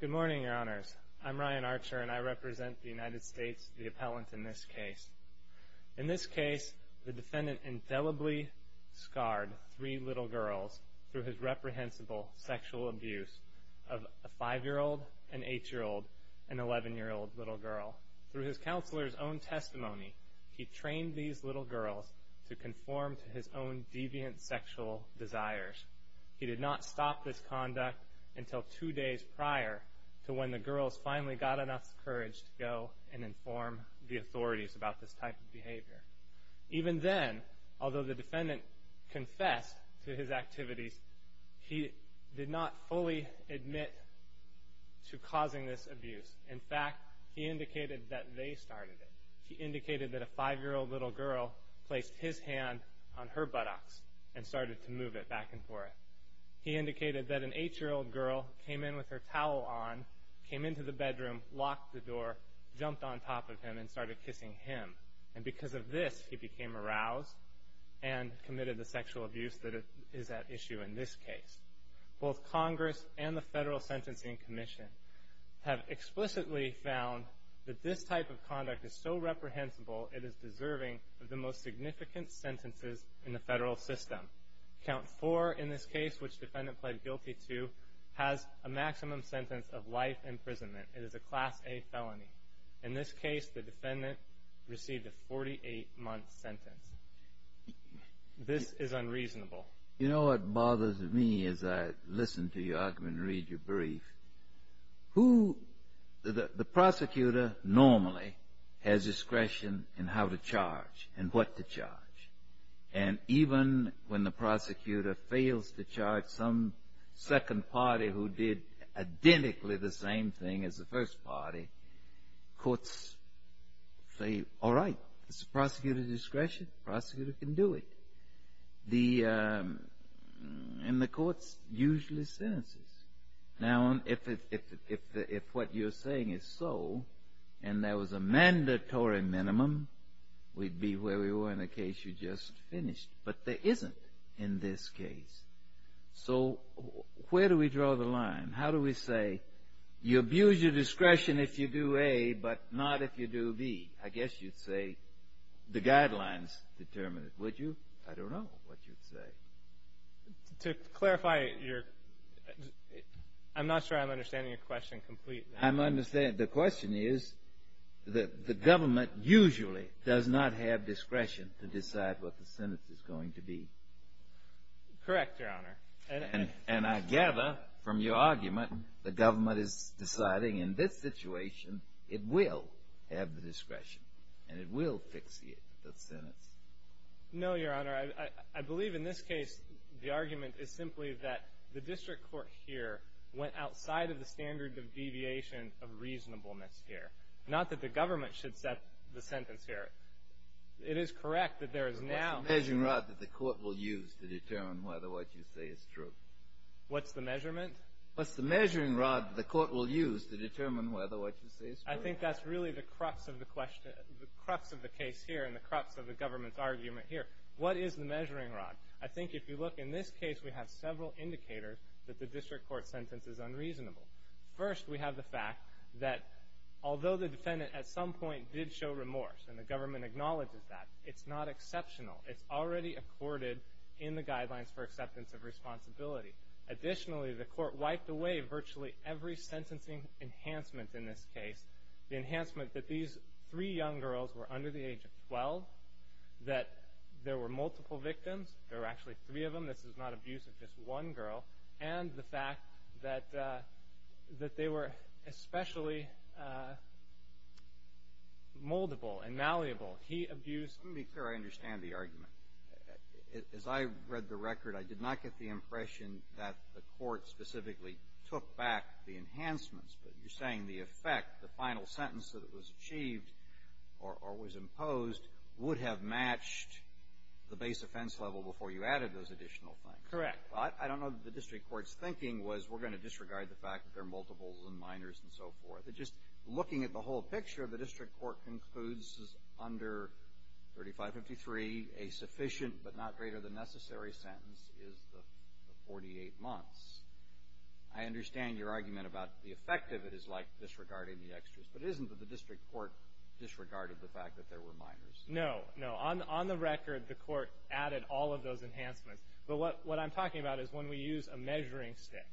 Good morning, your honors. I'm Ryan Archer, and I represent the United States, the appellant in this case. In this case, the defendant indelibly scarred three little girls through his reprehensible sexual abuse of a 5-year-old, an 8-year-old, and 11-year-old little girl. Through his counselor's own testimony, he trained these little girls to conform to his own deviant sexual desires. He did not stop this conduct until two days prior to when the girls finally got enough courage to go and inform the authorities about this type of behavior. Even then, although the defendant confessed to his activities, he did not fully admit to causing this abuse. In fact, he indicated that they started it. He indicated that a 5-year-old little girl placed his hand on her buttocks and started to move it back and forth. He indicated that an 8-year-old girl came in with her towel on, came into the bedroom, locked the door, jumped on top of him, and started kissing him. And because of this, he became aroused and committed the sexual abuse that is at issue in this case. Both Congress and the Federal Sentencing Commission have explicitly found that this type of conduct is so reprehensible, it is deserving of the most significant sentences in the federal system. Count 4 in this case, which the defendant pled guilty to, has a maximum sentence of life imprisonment. It is a Class A felony. In this case, the defendant received a 48-month sentence. This is unreasonable. You know what bothers me as I listen to your argument and read your brief? The prosecutor normally has discretion in how to charge and what to charge. And even when the prosecutor fails to charge some second party who did identically the same thing as the first party, courts say, all right, it's the prosecutor's discretion. The prosecutor can do it. And the courts usually sentences. Now, if what you're saying is so, and there was a mandatory minimum, we'd be where we were in the case you just finished. But there isn't in this case. So where do we draw the line? How do we say, you abuse your discretion if you do A, but not if you do B? I guess you'd say the guidelines determine it, would you? I don't know what you'd say. To clarify, I'm not sure I'm understanding your question completely. I'm understanding. The question is the government usually does not have discretion to decide what the sentence is going to be. Correct, Your Honor. And I gather from your argument the government is deciding in this situation it will have the discretion and it will fix the sentence. No, Your Honor. I believe in this case the argument is simply that the district court here went outside of the standard of deviation of reasonableness here. Not that the government should set the sentence here. It is correct that there is now. What's the measuring rod that the court will use to determine whether what you say is true? What's the measurement? What's the measuring rod that the court will use to determine whether what you say is true? I think that's really the crux of the case here and the crux of the government's argument here. What is the measuring rod? I think if you look in this case, we have several indicators that the district court sentence is unreasonable. First, we have the fact that although the defendant at some point did show remorse and the government acknowledges that, it's not exceptional. It's already accorded in the Guidelines for Acceptance of Responsibility. Additionally, the court wiped away virtually every sentencing enhancement in this case. The enhancement that these three young girls were under the age of 12, that there were multiple victims. There were actually three of them. This is not abuse of just one girl. And the fact that they were especially moldable and malleable. He abused Let me be clear. I understand the argument. As I read the record, I did not get the impression that the court specifically took back the enhancements. But you're saying the effect, the final sentence that was achieved or was imposed, would have matched the base offense level before you added those additional things. Correct. I don't know that the district court's thinking was we're going to disregard the fact that there are multiples and minors and so forth. But just looking at the whole picture, the district court concludes under 3553, a sufficient but not greater than necessary sentence is the 48 months. I understand your argument about the effect of it is like disregarding the extras. But isn't the district court disregarded the fact that there were minors? No, no. On the record, the court added all of those enhancements. But what I'm talking about is when we use a measuring stick,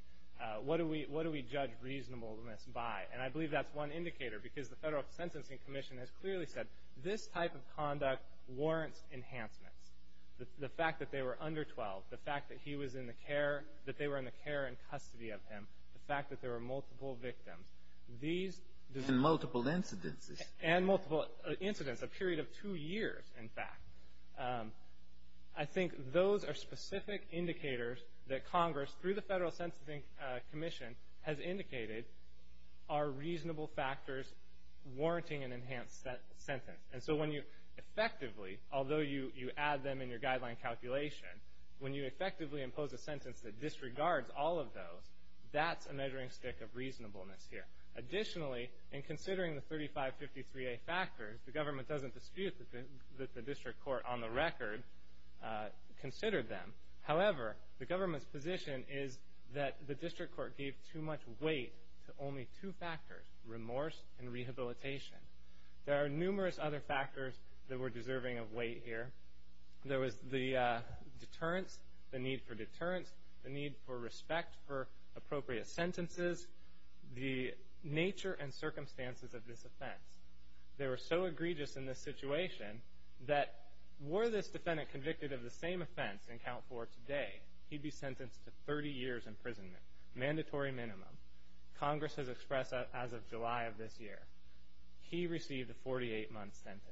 what do we judge reasonableness by? And I believe that's one indicator because the Federal Sentencing Commission has clearly said this type of conduct warrants enhancements. The fact that they were under 12, the fact that he was in the care, that they were in the care and custody of him, the fact that there were multiple victims. And multiple incidences. And multiple incidents, a period of two years, in fact. I think those are specific indicators that Congress, through the Federal Sentencing Commission, has indicated are reasonable factors warranting an enhanced sentence. And so when you effectively, although you add them in your guideline calculation, when you effectively impose a sentence that disregards all of those, that's a measuring stick of reasonableness here. Additionally, in considering the 3553A factors, the government doesn't dispute that the district court, on the record, considered them. However, the government's position is that the district court gave too much weight to only two factors, remorse and rehabilitation. There are numerous other factors that were deserving of weight here. There was the deterrence, the need for deterrence, the need for respect for appropriate sentences. The nature and circumstances of this offense. They were so egregious in this situation that were this defendant convicted of the same offense in count four today, he'd be sentenced to 30 years imprisonment, mandatory minimum. Congress has expressed that as of July of this year. He received a 48-month sentence.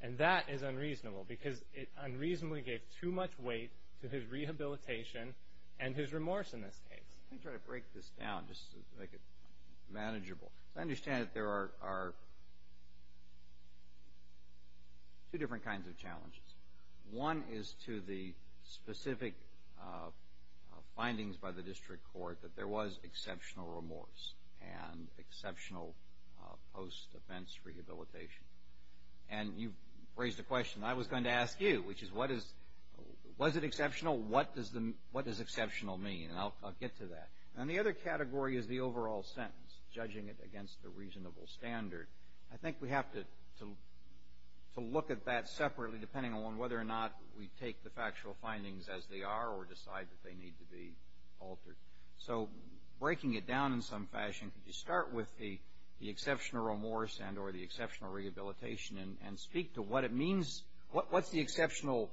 And that is unreasonable because it unreasonably gave too much weight to his rehabilitation and his remorse in this case. Let me try to break this down just to make it manageable. As I understand it, there are two different kinds of challenges. One is to the specific findings by the district court that there was exceptional remorse and exceptional post-offense rehabilitation. And you've raised a question I was going to ask you, which is, was it exceptional, what does exceptional mean? And I'll get to that. And the other category is the overall sentence, judging it against the reasonable standard. I think we have to look at that separately depending on whether or not we take the factual findings as they are or decide that they need to be altered. So breaking it down in some fashion, could you start with the exceptional remorse and or the exceptional rehabilitation and speak to what it means, what's the exceptional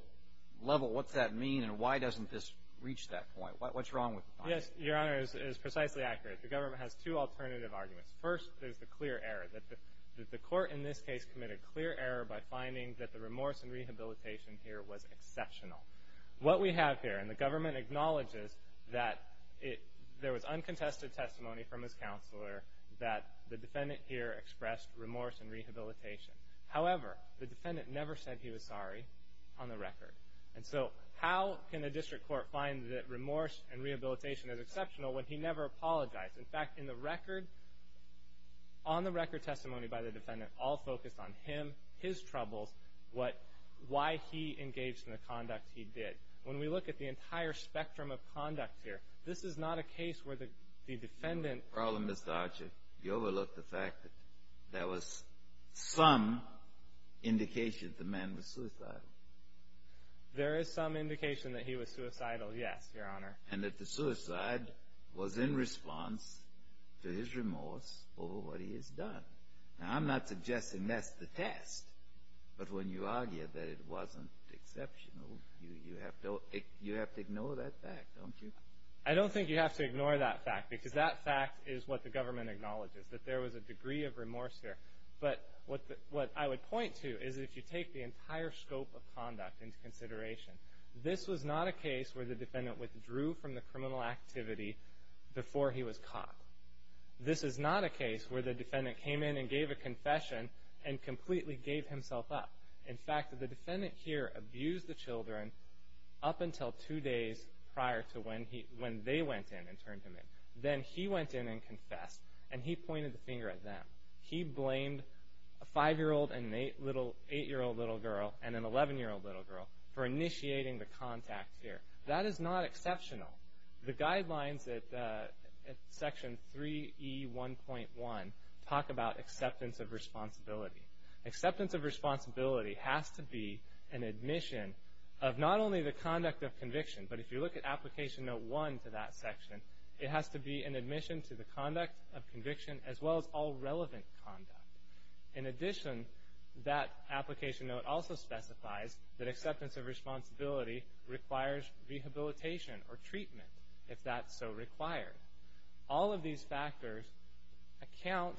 level, what's that mean, and why doesn't this reach that point? What's wrong with the findings? Yes, Your Honor, it is precisely accurate. The government has two alternative arguments. First, there's the clear error, that the court in this case committed clear error by finding that the remorse and rehabilitation here was exceptional. What we have here, and the government acknowledges that there was uncontested testimony from his counselor that the defendant here expressed remorse and rehabilitation. However, the defendant never said he was sorry on the record. And so how can a district court find that remorse and rehabilitation is exceptional when he never apologized? In fact, in the record, on the record testimony by the defendant all focused on him, his troubles, why he engaged in the conduct he did. When we look at the entire spectrum of conduct here, this is not a case where the defendant You overlooked the fact that there was some indication that the man was suicidal. There is some indication that he was suicidal, yes, Your Honor. And that the suicide was in response to his remorse over what he has done. Now, I'm not suggesting that's the test, but when you argue that it wasn't exceptional, you have to ignore that fact, don't you? I don't think you have to ignore that fact, because that fact is what the government acknowledges, that there was a degree of remorse here. But what I would point to is if you take the entire scope of conduct into consideration, this was not a case where the defendant withdrew from the criminal activity before he was caught. This is not a case where the defendant came in and gave a confession and completely gave himself up. In fact, the defendant here abused the children up until two days prior to when they went in and turned him in. Then he went in and confessed, and he pointed the finger at them. He blamed a 5-year-old and an 8-year-old little girl and an 11-year-old little girl for initiating the contact here. That is not exceptional. The guidelines at Section 3E1.1 talk about acceptance of responsibility. Acceptance of responsibility has to be an admission of not only the conduct of conviction, but if you look at Application Note 1 to that section, it has to be an admission to the conduct of conviction as well as all relevant conduct. In addition, that application note also specifies that acceptance of responsibility requires rehabilitation or treatment, if that's so required. All of these factors account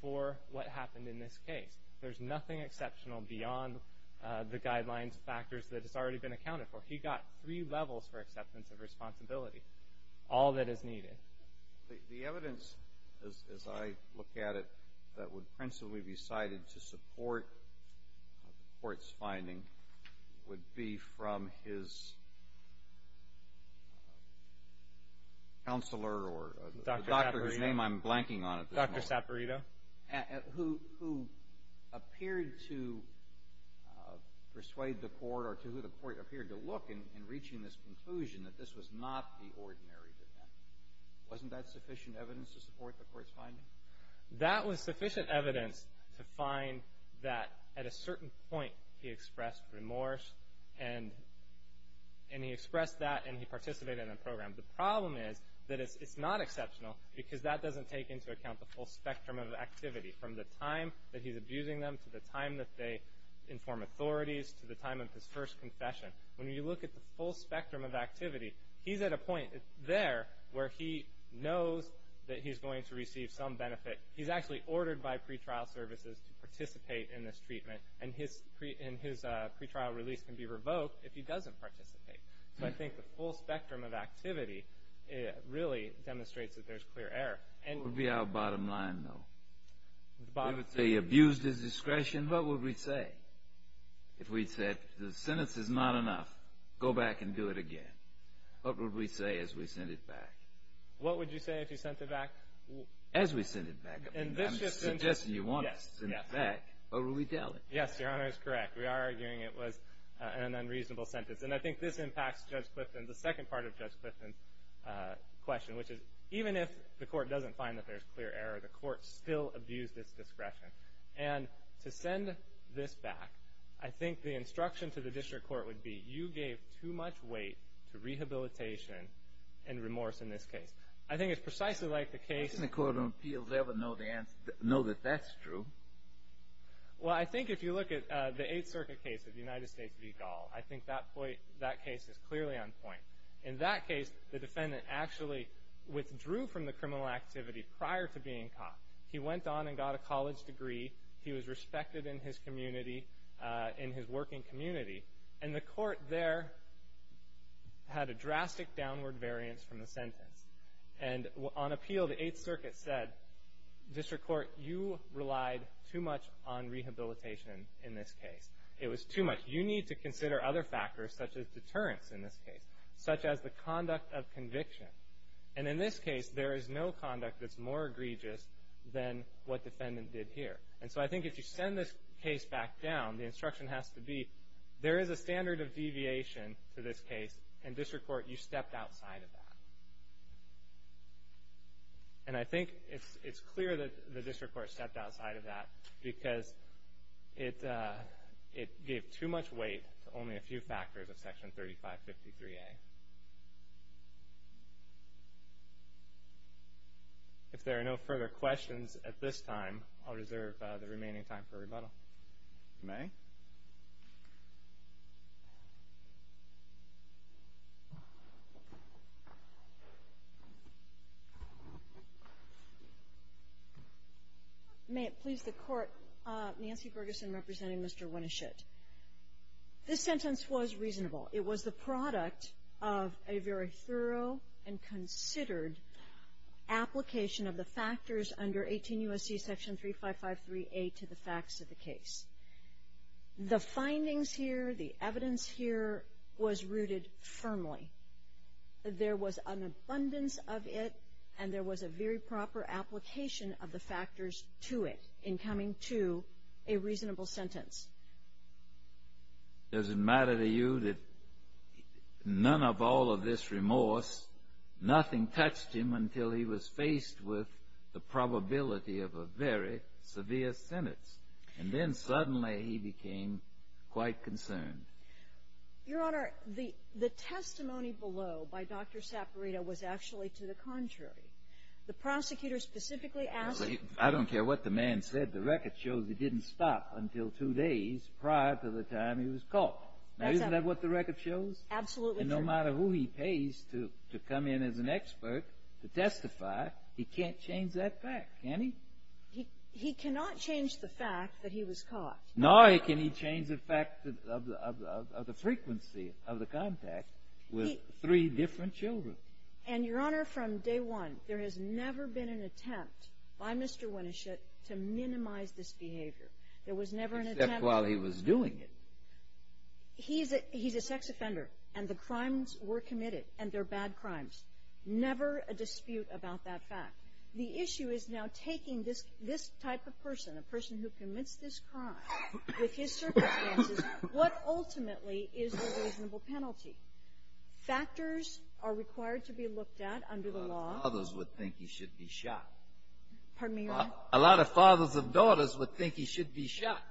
for what happened in this case. There's nothing exceptional beyond the guidelines factors that has already been accounted for. He got three levels for acceptance of responsibility, all that is needed. The evidence, as I look at it, that would principally be cited to support the court's finding would be from his counselor or doctor whose name I'm blanking on at this moment. Dr. Saperito. Who appeared to persuade the court or to who the court appeared to look in reaching this conclusion that this was not the ordinary defendant. Wasn't that sufficient evidence to support the court's finding? That was sufficient evidence to find that at a certain point he expressed remorse and he expressed that and he participated in the program. The problem is that it's not exceptional because that doesn't take into account the full spectrum of activity from the time that he's abusing them to the time that they inform authorities to the time of his first confession. He's at a point there where he knows that he's going to receive some benefit. He's actually ordered by pretrial services to participate in this treatment and his pretrial release can be revoked if he doesn't participate. So I think the full spectrum of activity really demonstrates that there's clear error. What would be our bottom line, though? If he abused his discretion, what would we say? If we said the sentence is not enough, go back and do it again. What would we say as we sent it back? What would you say if you sent it back? As we sent it back. I'm suggesting you want to send it back. What would we tell him? Yes, Your Honor is correct. We are arguing it was an unreasonable sentence. And I think this impacts Judge Clifton, the second part of Judge Clifton's question, which is even if the court doesn't find that there's clear error, the court still abused its discretion. And to send this back, I think the instruction to the district court would be, you gave too much weight to rehabilitation and remorse in this case. I think it's precisely like the case. Doesn't the Court of Appeals ever know that that's true? Well, I think if you look at the Eighth Circuit case of the United States v. Gall, I think that case is clearly on point. In that case, the defendant actually withdrew from the criminal activity prior to being caught. He went on and got a college degree. He was respected in his community, in his working community. And the court there had a drastic downward variance from the sentence. And on appeal, the Eighth Circuit said, district court, you relied too much on rehabilitation in this case. It was too much. You need to consider other factors, such as deterrence in this case, such as the conduct of conviction. And in this case, there is no conduct that's more egregious than what defendant did here. And so I think if you send this case back down, the instruction has to be, there is a standard of deviation to this case, and district court, you stepped outside of that. And I think it's clear that the district court stepped outside of that because it gave too much weight to only a few factors of Section 3553A. If there are no further questions at this time, I'll reserve the remaining time for rebuttal. If you may. May it please the Court, Nancy Ferguson representing Mr. Winischit. This sentence was reasonable. It was the product of a very thorough and considered application of the factors under 18 U.S.C. Section 3553A to the facts of the case. The findings here, the evidence here was rooted firmly. There was an abundance of it, and there was a very proper application of the factors to it in coming to a reasonable sentence. Does it matter to you that none of all of this remorse, nothing touched him until he was faced with the probability of a very severe sentence, and then suddenly he became quite concerned? Your Honor, the testimony below by Dr. Saperino was actually to the contrary. The prosecutor specifically asked the ---- I don't care what the man said. The record shows he didn't stop until two days prior to the time he was caught. That's right. Now, isn't that what the record shows? Absolutely true. And no matter who he pays to come in as an expert to testify, he can't change that fact, can he? He cannot change the fact that he was caught. Nor can he change the fact of the frequency of the contact with three different children. And, Your Honor, from day one, there has never been an attempt by Mr. Winischit to minimize this behavior. There was never an attempt to ---- Except while he was doing it. He's a sex offender, and the crimes were committed, and they're bad crimes. Never a dispute about that fact. The issue is now taking this type of person, a person who commits this crime, with his circumstances, what ultimately is the reasonable penalty? Factors are required to be looked at under the law. A lot of fathers would think he should be shot. Pardon me, Your Honor? A lot of fathers of daughters would think he should be shot.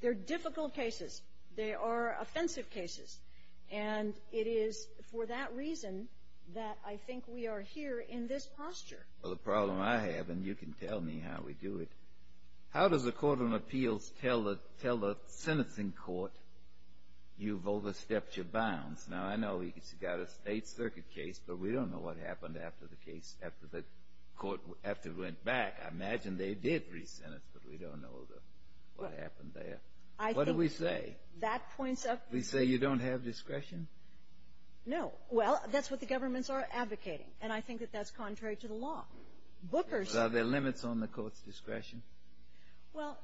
They're difficult cases. They are offensive cases. And it is for that reason that I think we are here in this posture. Well, the problem I have, and you can tell me how we do it, how does the Court of Appeals tell the sentencing court, you've overstepped your bounds? Now, I know he's got a State Circuit case, but we don't know what happened after the case, after the court, after it went back. I imagine they did re-sentence, but we don't know what happened there. I think ---- What do we say? That points up ---- We say you don't have discretion? No. Well, that's what the governments are advocating. And I think that that's contrary to the law. Booker's ---- Are there limits on the court's discretion? Well,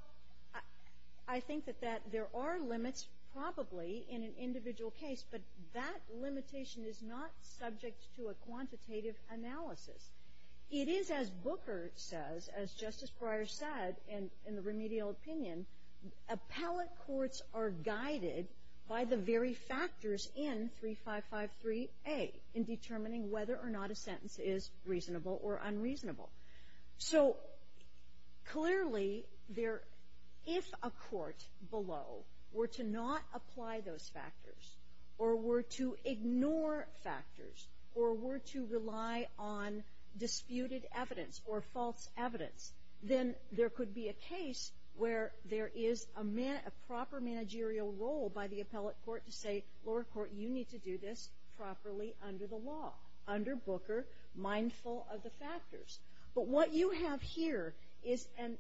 I think that that ---- there are limits probably in an individual case, but that limitation is not subject to a quantitative analysis. It is, as Booker says, as Justice Breyer said in the remedial opinion, appellate courts are guided by the very factors in 3553A in determining whether or not a sentence is reasonable or unreasonable. So, clearly, if a court below were to not apply those factors or were to ignore factors or were to rely on disputed evidence or false evidence, then there could be a case where there is a proper managerial role by the appellate court to say, lower court, you need to do this properly under the law, under Booker, mindful of the factors. But what you have here is an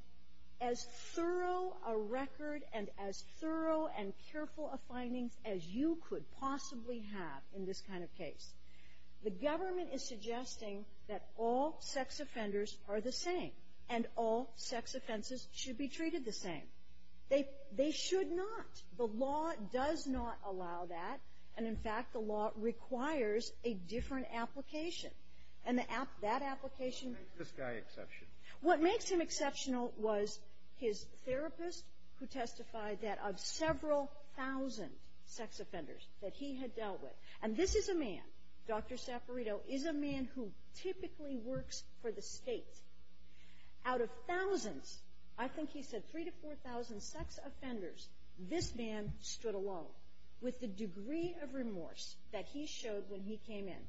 as thorough a record and as thorough and careful of findings as you could possibly have in this kind of case. The government is suggesting that all sex offenders are the same and all sex offenses should be treated the same. They should not. The law does not allow that. And, in fact, the law requires a different application. And that application makes this guy exceptional. What makes him exceptional was his therapist who testified that of several thousand sex offenders that he had dealt with. And this is a man, Dr. Saffarito, is a man who typically works for the State. Out of thousands, I think he said 3,000 to 4,000 sex offenders, this man stood alone with the degree of remorse that he showed when he came in.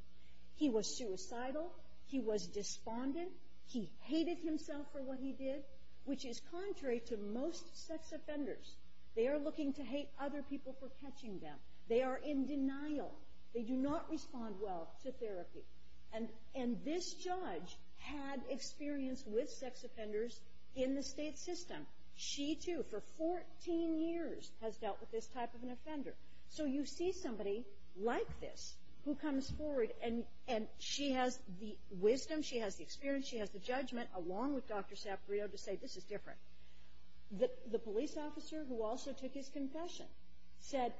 He was suicidal. He was despondent. He hated himself for what he did, which is contrary to most sex offenders. They are looking to hate other people for catching them. They are in denial. They do not respond well to therapy. And this judge had experience with sex offenders in the State system. She, too, for 14 years has dealt with this type of an offender. So you see somebody like this who comes forward and she has the wisdom, she has the experience, she has the judgment, along with Dr. Saffarito, to say this is different. The police officer who also took his confession said,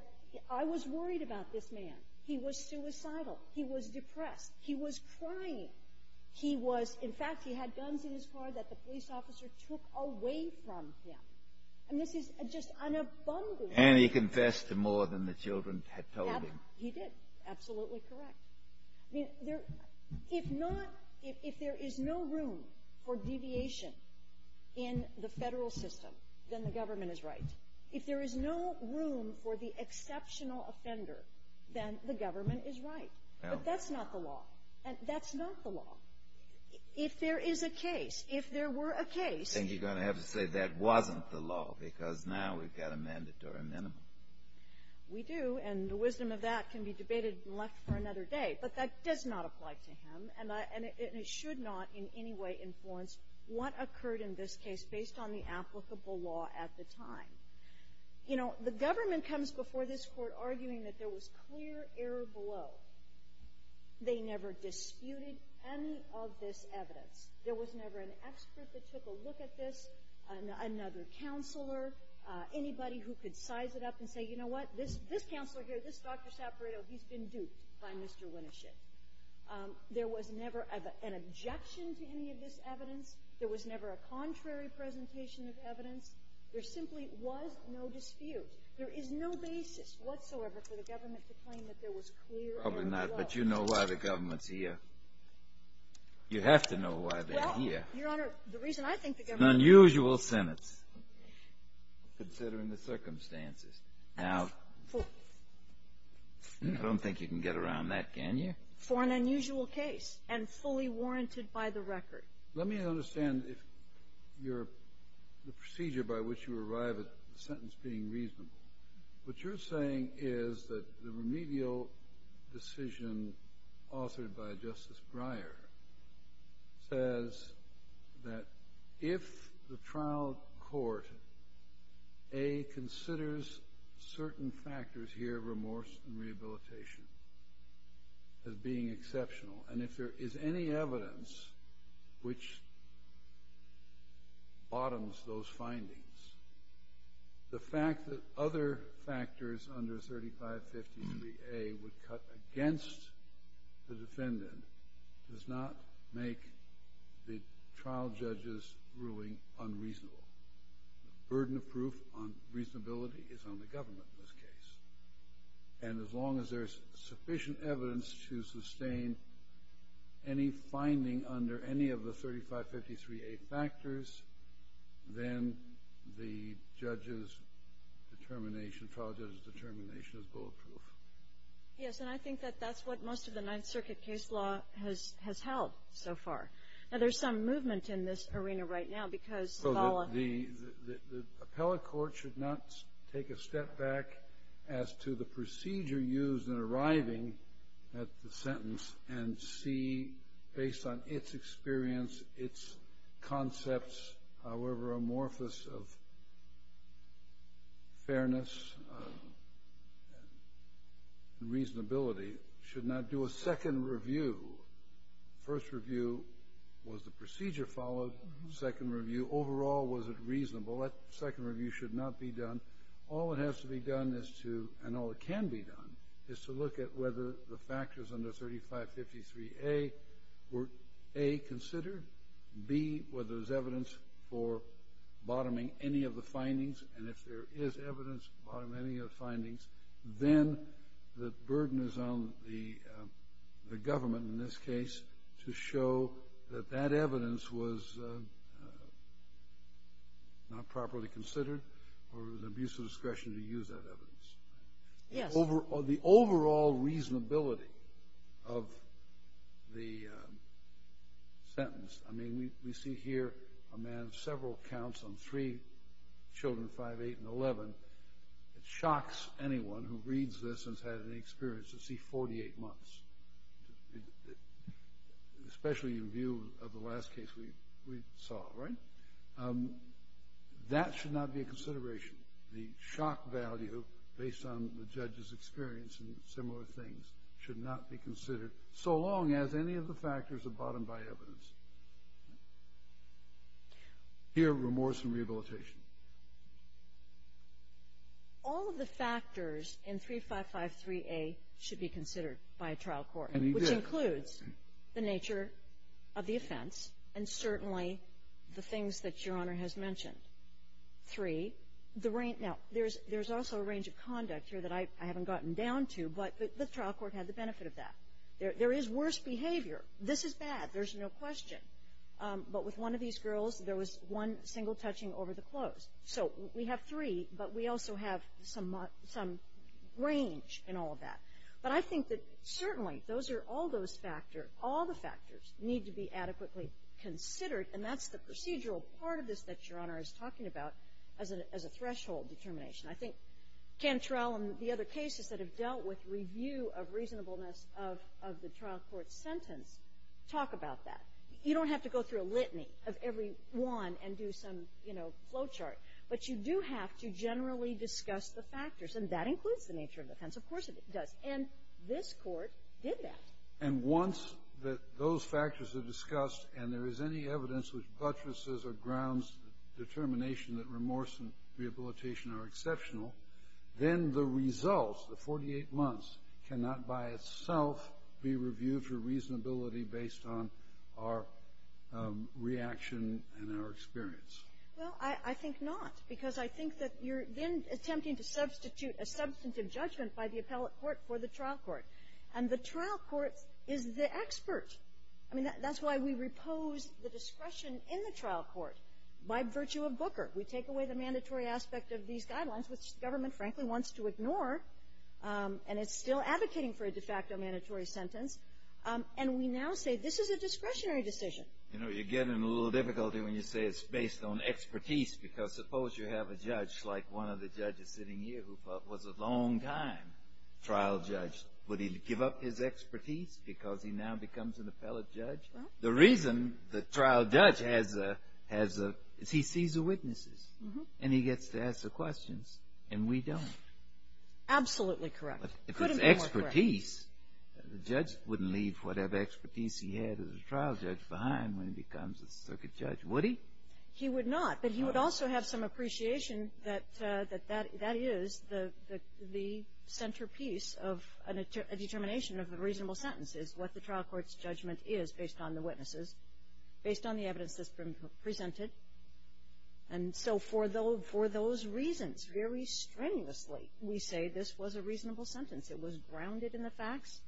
I was worried about this man. He was suicidal. He was depressed. He was crying. He was, in fact, he had guns in his car that the police officer took away from him. And this is just unabundant. And he confessed to more than the children had told him. He did. Absolutely correct. I mean, if not, if there is no room for deviation in the Federal system, then the government is right. If there is no room for the exceptional offender, then the government is right. But that's not the law. That's not the law. If there is a case, if there were a case — I think you're going to have to say that wasn't the law, because now we've got a mandatory minimum. We do. And the wisdom of that can be debated and left for another day. But that does not apply to him. And it should not in any way influence what occurred in this case based on the applicable law at the time. You know, the government comes before this Court arguing that there was clear error below. They never disputed any of this evidence. There was never an expert that took a look at this, another counselor, anybody who could size it up and say, you know what, this counselor here, this Dr. Saperato, he's been duped by Mr. Wintershit. There was never an objection to any of this evidence. There was never a contrary presentation of evidence. There simply was no dispute. There is no basis whatsoever for the government to claim that there was clear error below. Probably not. But you know why the government's here. You have to know why they're here. Well, Your Honor, the reason I think the government — An unusual sentence, considering the circumstances. Now, I don't think you can get around that, can you? For an unusual case and fully warranted by the record. Let me understand the procedure by which you arrive at the sentence being reasonable. What you're saying is that the remedial decision authored by Justice Breyer says that if the trial court, A, considers certain factors here, remorse and rehabilitation, as being exceptional, and if there is any evidence which bottoms those findings, the fact that other factors under 3553A would cut against the defendant does not make the trial judge's ruling unreasonable. The burden of proof on reasonability is on the government in this case. And as long as there's sufficient evidence to sustain any finding under any of the 3553A factors, then the judge's determination, trial judge's determination is bulletproof. Yes, and I think that that's what most of the Ninth Circuit case law has held so far. Now, there's some movement in this arena right now because — So the appellate court should not take a step back as to the procedure used in arriving at the sentence and see, based on its experience, its concepts, however amorphous, of fairness and reasonability. It should not do a second review. First review, was the procedure followed? Second review, overall, was it reasonable? That second review should not be done. All that has to be done and all that can be done is to look at whether the factors under 3553A were, A, considered, B, whether there's evidence for bottoming any of the findings, then the burden is on the government in this case to show that that evidence was not properly considered or it was an abuse of discretion to use that evidence. Yes. The overall reasonability of the sentence. I mean, we see here a man of several counts on three children, 5, 8, and 11. It shocks anyone who reads this and has had any experience to see 48 months, especially in view of the last case we saw, right? That should not be a consideration. The shock value, based on the judge's experience in similar things, should not be considered so long as any of the factors are bottomed by evidence. Here, remorse and rehabilitation. All of the factors in 3553A should be considered by a trial court. And he did. Which includes the nature of the offense and certainly the things that Your Honor has mentioned. Three, the range of conduct here that I haven't gotten down to, but the trial court had the benefit of that. There is worse behavior. This is bad. There's no question. But with one of these girls, there was one single touching over the clothes. So we have three, but we also have some range in all of that. But I think that certainly those are all those factors. All the factors need to be adequately considered, and that's the procedural part of this that Your Honor is talking about as a threshold determination. I think Cantrell and the other cases that have dealt with review of reasonableness of the trial court's sentence talk about that. You don't have to go through a litany of every one and do some, you know, flow chart. But you do have to generally discuss the factors, and that includes the nature of the offense. Of course it does. And this Court did that. And once those factors are discussed and there is any evidence which buttresses or grounds the determination that remorse and rehabilitation are exceptional, then the results, the 48 months, cannot by itself be reviewed for reasonability based on our reaction and our experience. Well, I think not, because I think that you're, again, attempting to substitute a substantive judgment by the appellate court for the trial court. And the trial court is the expert. I mean, that's why we repose the discretion in the trial court by virtue of Booker. We take away the mandatory aspect of these guidelines, which the government, frankly, wants to ignore. And it's still advocating for a de facto mandatory sentence. And we now say this is a discretionary decision. You know, you're getting a little difficulty when you say it's based on expertise, because suppose you have a judge like one of the judges sitting here who was a long-time trial judge. Would he give up his expertise because he now becomes an appellate judge? The reason the trial judge has a, he sees the witnesses, and he gets to ask the questions, and we don't. Absolutely correct. If it's expertise, the judge wouldn't leave whatever expertise he had as a trial judge behind when he becomes a circuit judge, would he? He would not. But he would also have some appreciation that that is the centerpiece of a determination of a reasonable sentence is what the trial court's judgment is based on the witnesses, based on the evidence that's been presented. And so for those reasons, very strenuously, we say this was a reasonable sentence. It was grounded in the facts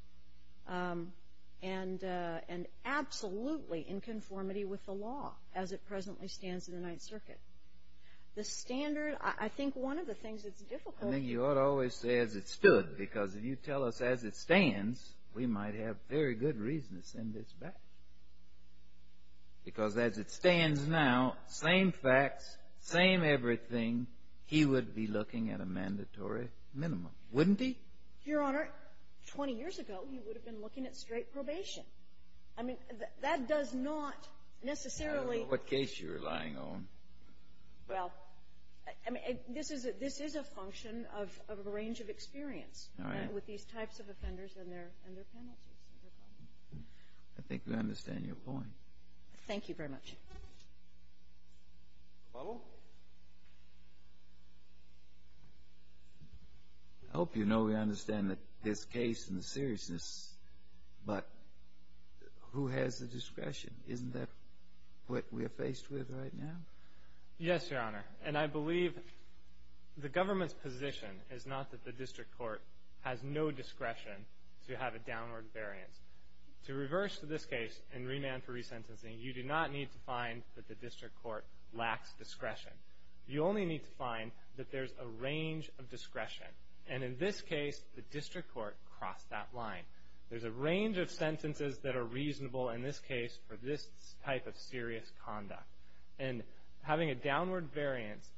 and absolutely in conformity with the law as it presently stands in the Ninth Circuit. The standard, I think one of the things that's difficult. I think you ought to always say, as it stood, because if you tell us as it stands, we might have very good reasons to send this back. Because as it stands now, same facts, same everything, he would be looking at a mandatory minimum, wouldn't he? Your Honor, 20 years ago, he would have been looking at straight probation. I mean, that does not necessarily. I don't know what case you're relying on. Well, I mean, this is a function of a range of experience. All right. With these types of offenders and their penalties. I think we understand your point. Thank you very much. The following? I hope you know we understand that this case and the seriousness, but who has the discretion? Isn't that what we're faced with right now? Yes, Your Honor. And I believe the government's position is not that the district court has no discretion to have a downward variance. To reverse this case and remand for resentencing, you do not need to find that the district court lacks discretion. You only need to find that there's a range of discretion. And in this case, the district court crossed that line. There's a range of sentences that are reasonable in this case for this type of serious conduct. And having a downward variance,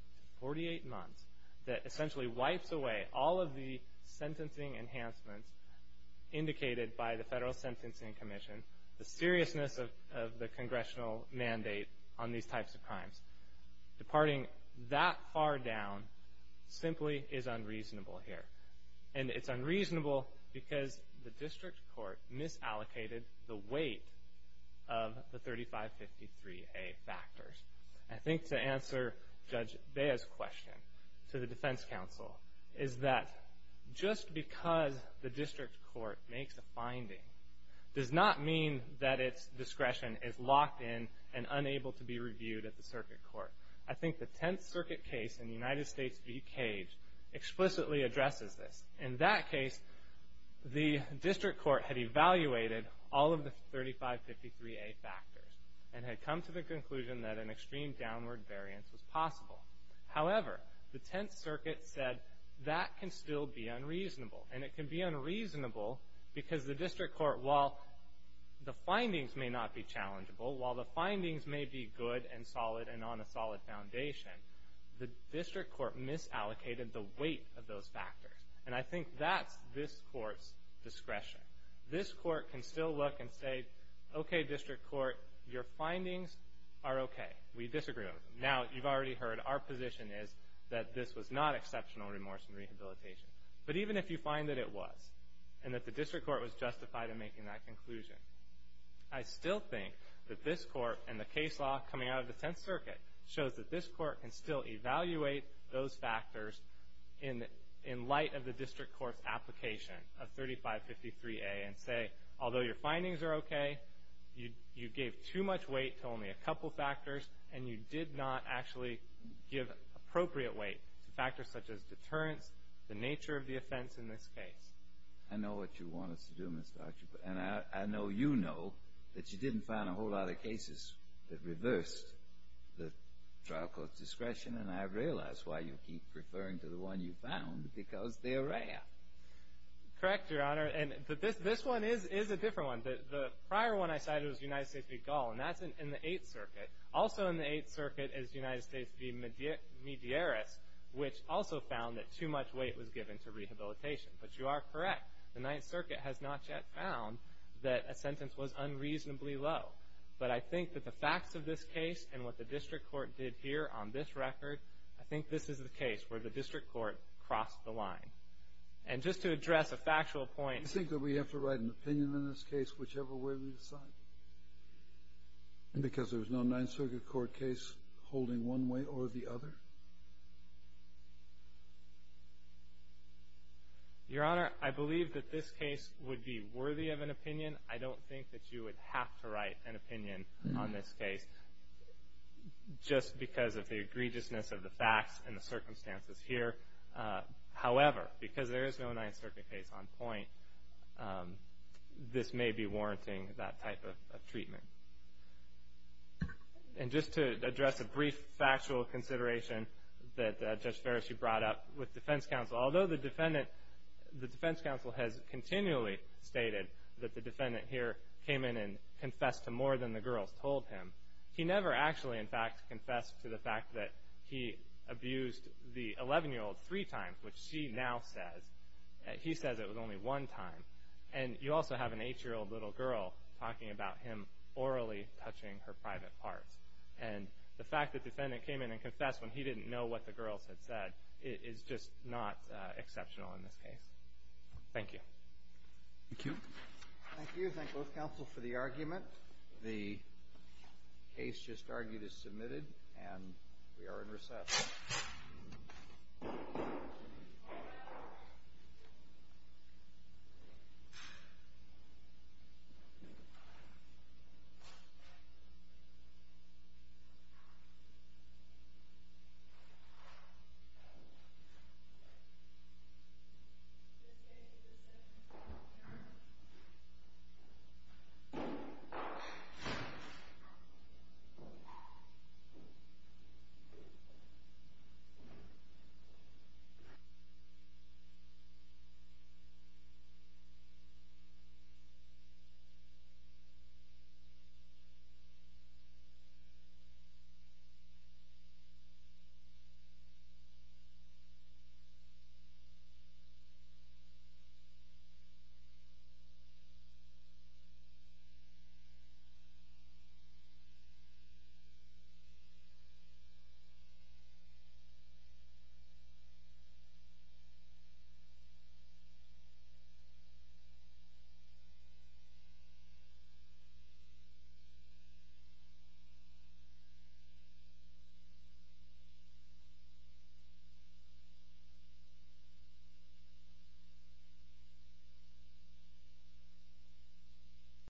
48 months, that essentially wipes away all of the sentencing enhancements indicated by the Federal Sentencing Commission, the seriousness of the congressional mandate on these types of crimes. Departing that far down simply is unreasonable here. And it's unreasonable because the district court misallocated the weight of the 3553A factors. I think to answer Judge Bea's question to the defense counsel is that just because the district court makes a finding does not mean that its discretion is locked in and unable to be reviewed at the circuit court. I think the Tenth Circuit case in the United States v. Cage explicitly addresses this. In that case, the district court had evaluated all of the 3553A factors and had come to the conclusion that an extreme downward variance was possible. However, the Tenth Circuit said that can still be unreasonable. And it can be unreasonable because the district court, while the findings may not be challengeable, while the findings may be good and solid and on a solid foundation, the district court misallocated the weight of those factors. And I think that's this court's discretion. This court can still look and say, okay, district court, your findings are okay. We disagree with them. Now, you've already heard our position is that this was not exceptional remorse and rehabilitation. But even if you find that it was and that the district court was justified in making that conclusion, I still think that this court and the case law coming out of the Tenth Circuit shows that this court can still evaluate those factors in light of the district court's application of 3553A and say, although your findings are okay, you gave too much weight to only a couple factors and you did not actually give appropriate weight to factors such as deterrence, the nature of the offense in this case. I know what you want us to do, Mr. Archibald. And I know you know that you didn't find a whole lot of cases that reversed the trial court's discretion. And I realize why you keep referring to the one you found, because they're rare. Correct, Your Honor. And this one is a different one. The prior one I cited was United States v. Gall, and that's in the Eighth Circuit. Also in the Eighth Circuit is United States v. Medeiros, which also found that too much weight was given to rehabilitation. But you are correct. The Ninth Circuit has not yet found that a sentence was unreasonably low. But I think that the facts of this case and what the district court did here on this record, I think this is the case where the district court crossed the line. And just to address a factual point. Do you think that we have to write an opinion in this case whichever way we decide? Because there's no Ninth Circuit court case holding one way or the other? Your Honor, I believe that this case would be worthy of an opinion. I don't think that you would have to write an opinion on this case just because of the egregiousness of the facts and the circumstances here. However, because there is no Ninth Circuit case on point, this may be warranting that type of treatment. And just to address a brief factual consideration that Judge Ferris, you brought up with defense counsel. Although the defense counsel has continually stated that the defendant here came in and confessed to more than the girls told him, he never actually, in fact, confessed to the fact that he abused the 11-year-old three times, which she now says. He says it was only one time. And you also have an 8-year-old little girl talking about him orally touching her private parts. And the fact that the defendant came in and confessed when he didn't know what the girls had said is just not exceptional in this case. Thank you. Thank you. Thank you. I do thank both counsel for the argument. The case just argued is submitted, and we are in recess. Thank you. Thank you. Thank you.